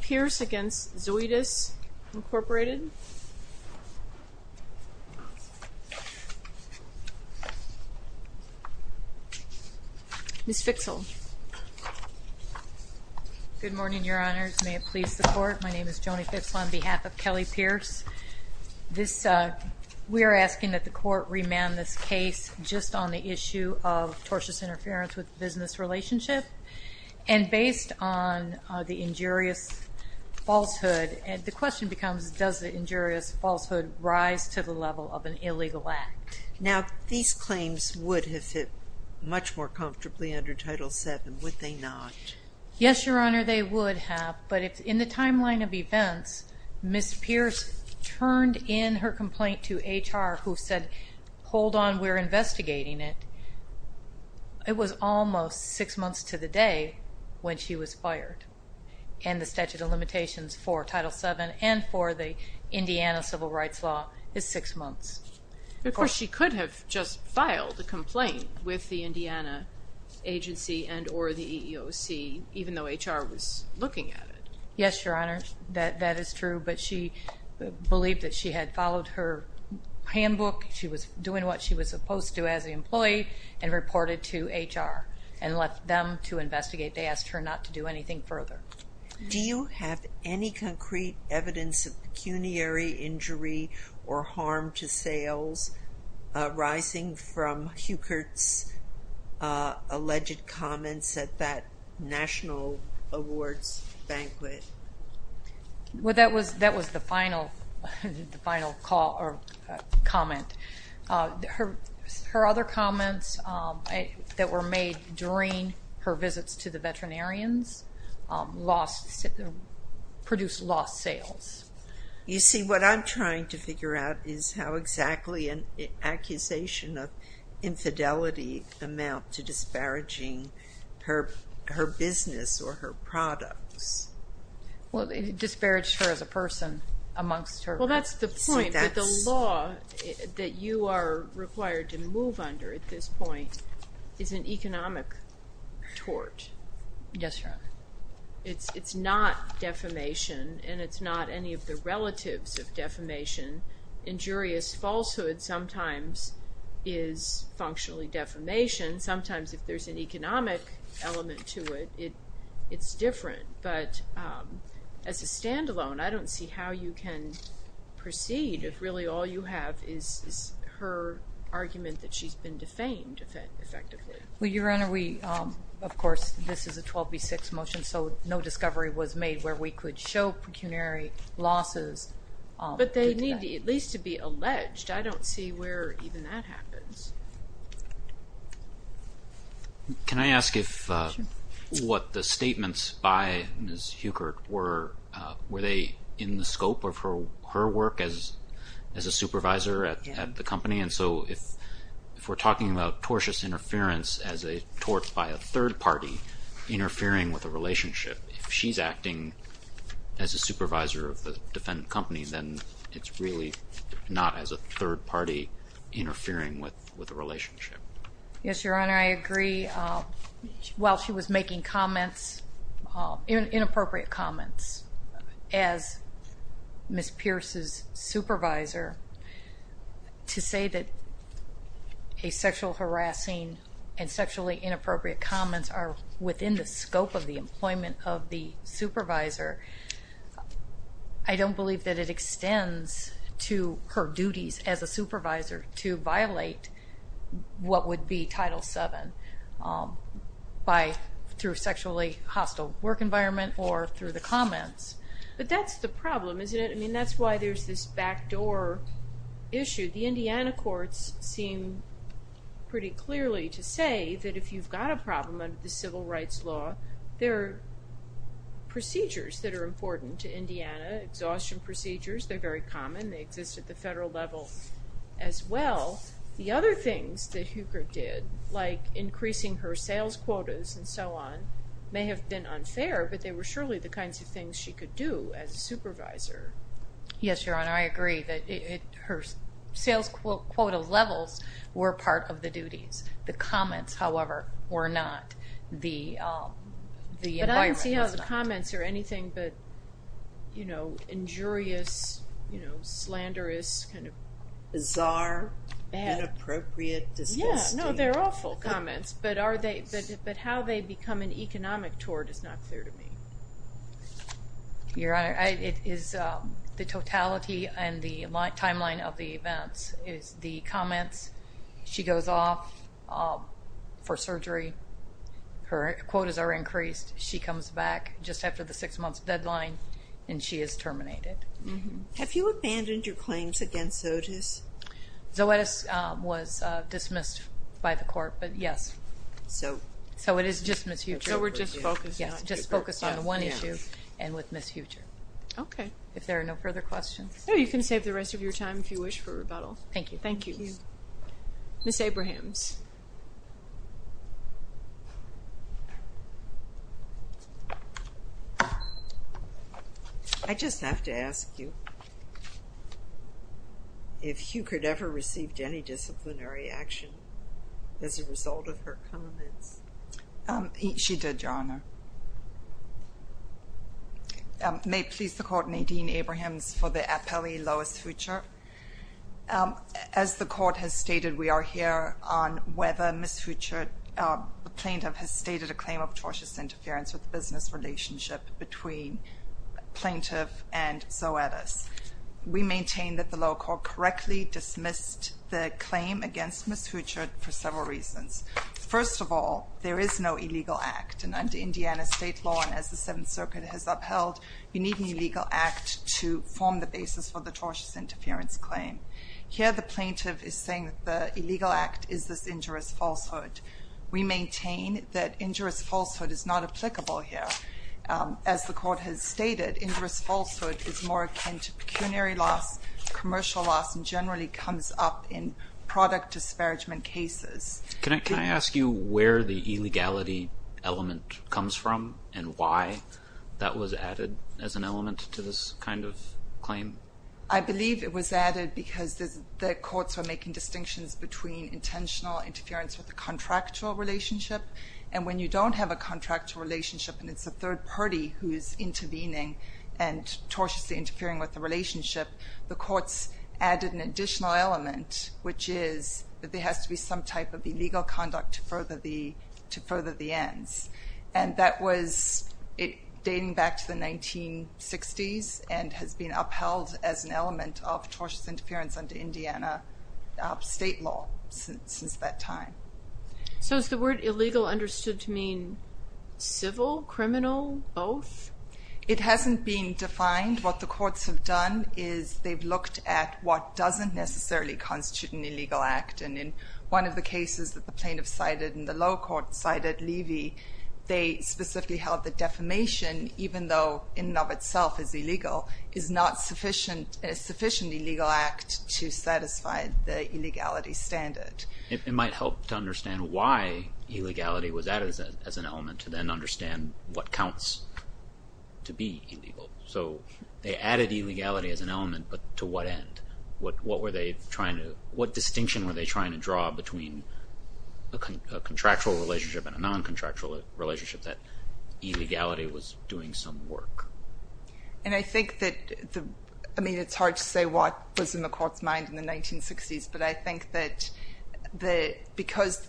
Pierce v. Zoetis, Inc. Ms. Fitzell. Good morning, Your Honors. May it please the Court, my name is Joni Fitzell on behalf of Kelly Pierce. We are asking that the Court remand this case just on the issue of tortious interference with the business relationship. And based on the injurious falsehood, the question becomes, does the injurious falsehood rise to the level of an illegal act? Now, these claims would have fit much more comfortably under Title VII, would they not? Yes, Your Honor, they would have, but in the timeline of events, Ms. Pierce turned in her complaint to HR who said, hold on, we're investigating it. It was almost six months to the day when she was fired. And the statute of limitations for Title VII and for the Indiana civil rights law is six months. Of course, she could have just filed a complaint with the Indiana agency and or the EEOC, even though HR was looking at it. Yes, Your Honor, that is true. But she believed that she had followed her handbook. She was doing what she was supposed to as an employee and reported to HR and left them to investigate. They asked her not to do anything further. Do you have any concrete evidence of pecuniary injury or harm to sales arising from Huchert's alleged comments at that national awards banquet? Well, that was the final comment. Her other comments that were made during her visits to the veterinarians produced lost sales. You see, what I'm trying to figure out is how exactly an accusation of infidelity amount to disparaging her business or her products. Well, it disparaged her as a person amongst her. Well, that's the point that the law that you are required to move under at this point is an economic tort. Yes, Your Honor. It's not defamation and it's not any of the relatives of defamation. Injurious falsehood sometimes is functionally defamation. Sometimes if there's an economic element to it, it's different. But as a standalone, I don't see how you can proceed if really all you have is her argument that she's been defamed effectively. Well, Your Honor, we, of course, this is a 12B6 motion, so no discovery was made where we could show pecuniary losses. But they need at least to be alleged. I don't see where even that happens. Can I ask if what the statements by Ms. Heuchert were, were they in the scope of her work as a supervisor at the company? And so if we're talking about tortious interference as a tort by a third party interfering with a relationship, if she's acting as a supervisor of the defendant company, then it's really not as a third party interfering with a relationship. Yes, Your Honor, I agree. While she was making comments, inappropriate comments, as Ms. Pierce's supervisor, to say that a sexual harassing and sexually inappropriate comments are within the scope of the employment of the supervisor, I don't believe that it extends to her duties as a supervisor to violate what would be Title VII by, through a sexually hostile work environment or through the comments. But that's the problem, isn't it? I mean, that's why there's this backdoor issue. The Indiana courts seem pretty clearly to say that if you've got a problem under the civil rights law, there are procedures that are important to Indiana, exhaustion procedures. They're very common. They exist at the federal level as well. The other things that Heuchert did, like increasing her sales quotas and so on, may have been unfair, but they were surely the kinds of things she could do as a supervisor. Yes, Your Honor, I agree that her sales quota levels were part of the duties. The comments, however, were not. The environment was not. But I don't see how the comments are anything but injurious, slanderous, kind of bizarre, inappropriate, disgusting. No, they're awful comments, but how they become an economic tort is not clear to me. Your Honor, it is the totality and the timeline of the events is the comments. She goes off for surgery. Her quotas are increased. She comes back just after the six-month deadline, and she is terminated. Have you abandoned your claims against Zoetis? Zoetis was dismissed by the court, but yes. So it is just Ms. Heuchert. So we're just focused on one issue and with Ms. Heuchert. Okay. If there are no further questions. No, you can save the rest of your time if you wish for rebuttal. Thank you. Thank you. Ms. Abrahams. I just have to ask you if Heuchert ever received any disciplinary action as a result of her comments. She did, Your Honor. May it please the Court, Nadine Abrahams for the appellee Lois Heuchert. As the Court has stated, we are here on whether Ms. Heuchert, the plaintiff, has stated a claim of tortious interference with the business relationship between plaintiff and Zoetis. We maintain that the lower court correctly dismissed the claim against Ms. Heuchert for several reasons. First of all, there is no illegal act, and under Indiana state law, as the Seventh Circuit has upheld, you need an illegal act to form the basis for the tortious interference claim. Here the plaintiff is saying that the illegal act is this injurious falsehood. We maintain that injurious falsehood is not applicable here. As the Court has stated, injurious falsehood is more akin to pecuniary loss, commercial loss, and generally comes up in product disparagement cases. Can I ask you where the illegality element comes from and why that was added as an element to this kind of claim? I believe it was added because the courts were making distinctions between intentional interference with the contractual relationship, and when you don't have a contractual relationship and it's a third party who is intervening and tortiously interfering with the relationship, the courts added an additional element, which is that there has to be some type of illegal conduct to further the ends. And that was dating back to the 1960s and has been upheld as an element of tortious interference under Indiana state law since that time. So is the word illegal understood to mean civil, criminal, both? It hasn't been defined. What the courts have done is they've looked at what doesn't necessarily constitute an illegal act. And in one of the cases that the plaintiff cited and the lower court cited, Levy, they specifically held that defamation, even though in and of itself is illegal, is not a sufficient illegal act to satisfy the illegality standard. It might help to understand why illegality was added as an element to then understand what counts to be illegal. So they added illegality as an element, but to what end? What distinction were they trying to draw between a contractual relationship and a non-contractual relationship that illegality was doing some work? And I think that, I mean, it's hard to say what was in the court's mind in the 1960s, but I think that because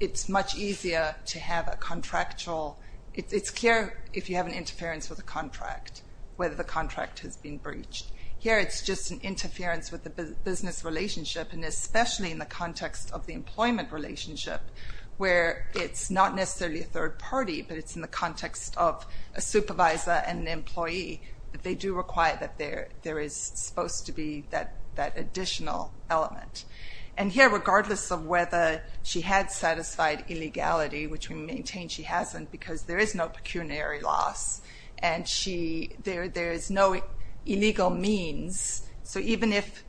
it's much easier to have a contractual, it's clear if you have an interference with a contract, whether the contract has been breached. Here it's just an interference with the business relationship, and especially in the context of the employment relationship, where it's not necessarily a third party, but it's in the context of a supervisor and an employee, that they do require that there is supposed to be that additional element. And here, regardless of whether she had satisfied illegality, which we maintain she hasn't, because there is no pecuniary loss, and there is no illegal means. So even if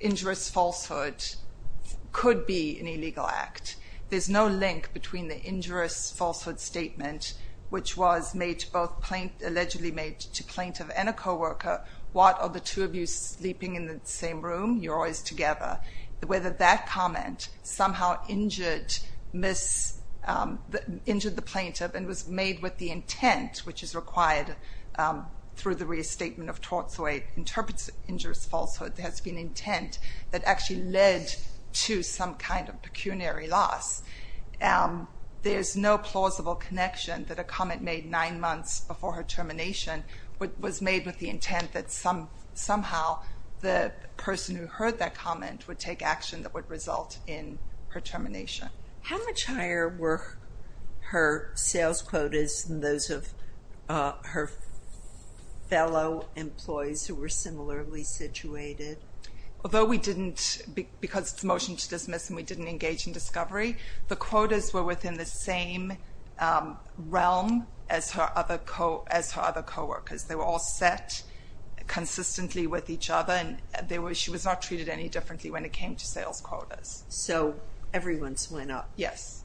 injurious falsehood could be an illegal act, there's no link between the injurious falsehood statement, which was both allegedly made to plaintiff and a co-worker, what are the two of you sleeping in the same room? You're always together. Whether that comment somehow injured the plaintiff and was made with the intent, which is required through the re-statement of tort, so it interprets injurious falsehood, has been intent that actually led to some kind of pecuniary loss. There's no plausible connection that a comment made nine months before her termination was made with the intent that somehow the person who heard that comment would take action that would result in her termination. How much higher were her sales quotas than those of her fellow employees who were similarly situated? Although we didn't, because it's a motion to dismiss and we didn't engage in discovery, the quotas were within the same realm as her other co-workers. They were all set consistently with each other, and she was not treated any differently when it came to sales quotas. So everyone's went up. Yes.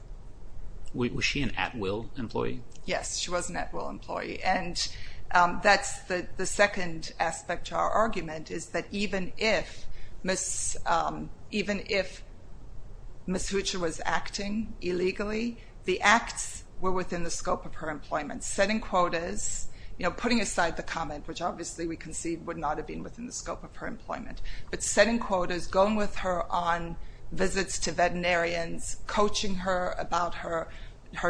Was she an at-will employee? Yes, she was an at-will employee, and that's the second aspect to our argument, is that even if Ms. Hootcher was acting illegally, the acts were within the scope of her employment. Setting quotas, you know, putting aside the comment, which obviously we concede would not have been within the scope of her employment, but setting quotas, going with her on visits to veterinarians, coaching her about her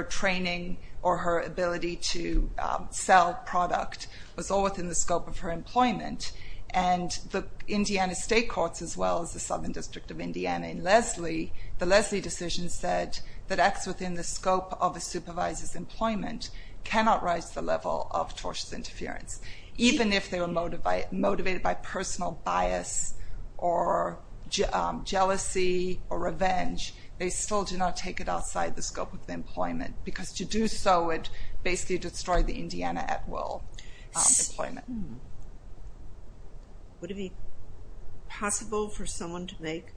training or her ability to sell product was all within the scope of her employment. And the Indiana State Courts, as well as the Southern District of Indiana and Lesley, the Lesley decision said that acts within the scope of a supervisor's employment cannot rise to the level of tortious interference. Even if they were motivated by personal bias or jealousy or revenge, they still do not take it outside the scope of the employment, because to do so would basically destroy the Indiana at-will employment. Would it be possible for someone to make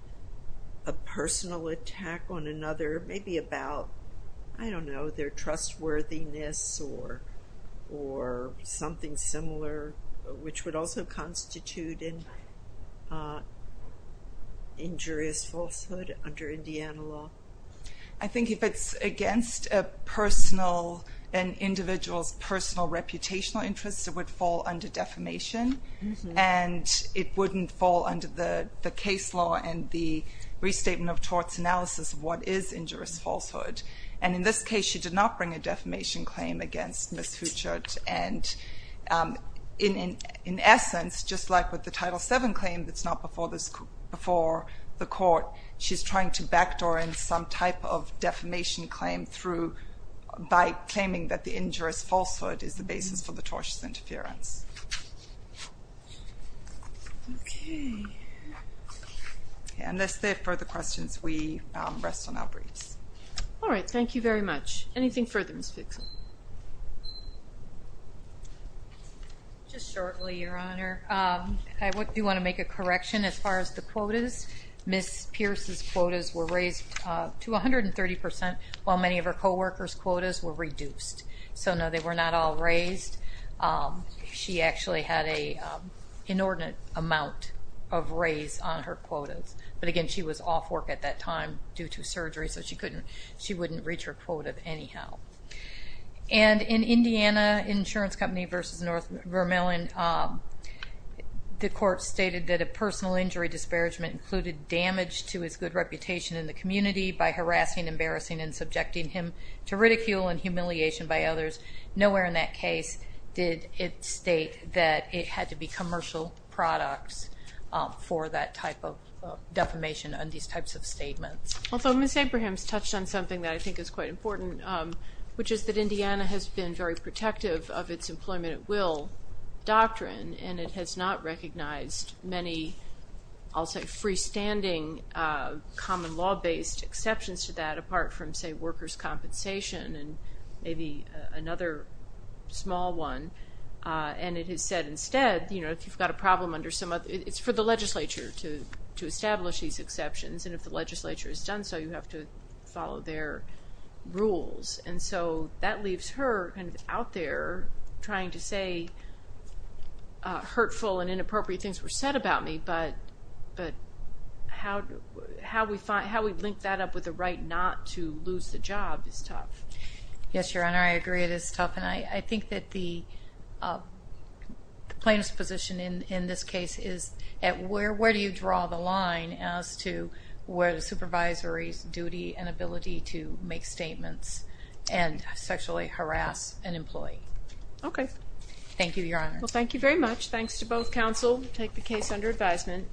a personal attack on another, maybe about, I don't know, their trustworthiness or something similar, which would also constitute injurious falsehood under Indiana law? I think if it's against an individual's personal reputational interests, it would fall under defamation, and it wouldn't fall under the case law and the restatement of torts analysis of what is injurious falsehood. And in this case, she did not bring a defamation claim against Ms. Huchard. And in essence, just like with the Title VII claim that's not before the court, she's trying to backdoor in some type of defamation claim by claiming that the injurious falsehood is the basis for the tortious interference. Okay. And unless there are further questions, we rest on our briefs. All right. Thank you very much. Anything further, Ms. Fixon? Just shortly, Your Honor. I do want to make a correction as far as the quotas. Ms. Pierce's quotas were raised to 130%, while many of her coworkers' quotas were reduced. So, no, they were not all raised. She actually had an inordinate amount of raise on her quotas. But, again, she was off work at that time due to surgery, so she wouldn't reach her quota anyhow. And in Indiana Insurance Company v. North Vermillion, the court stated that a personal injury disparagement included damage to his good reputation in the community by harassing, embarrassing, and subjecting him to ridicule and humiliation by others. Nowhere in that case did it state that it had to be commercial products for that type of defamation and these types of statements. Although Ms. Abrahams touched on something that I think is quite important, which is that Indiana has been very protective of its employment at will doctrine, and it has not recognized many, I'll say, very standing common law-based exceptions to that apart from, say, workers' compensation and maybe another small one. And it has said instead, you know, if you've got a problem under some other, it's for the legislature to establish these exceptions, and if the legislature has done so, you have to follow their rules. And so that leaves her kind of out there trying to say hurtful and inappropriate things were said about me, but how we link that up with the right not to lose the job is tough. Yes, Your Honor, I agree it is tough, and I think that the plaintiff's position in this case is where do you draw the line as to where the supervisory's duty and ability to make statements and sexually harass an employee. Okay. Thank you, Your Honor. Well, thank you very much. Thanks to both counsel who take the case under advisement.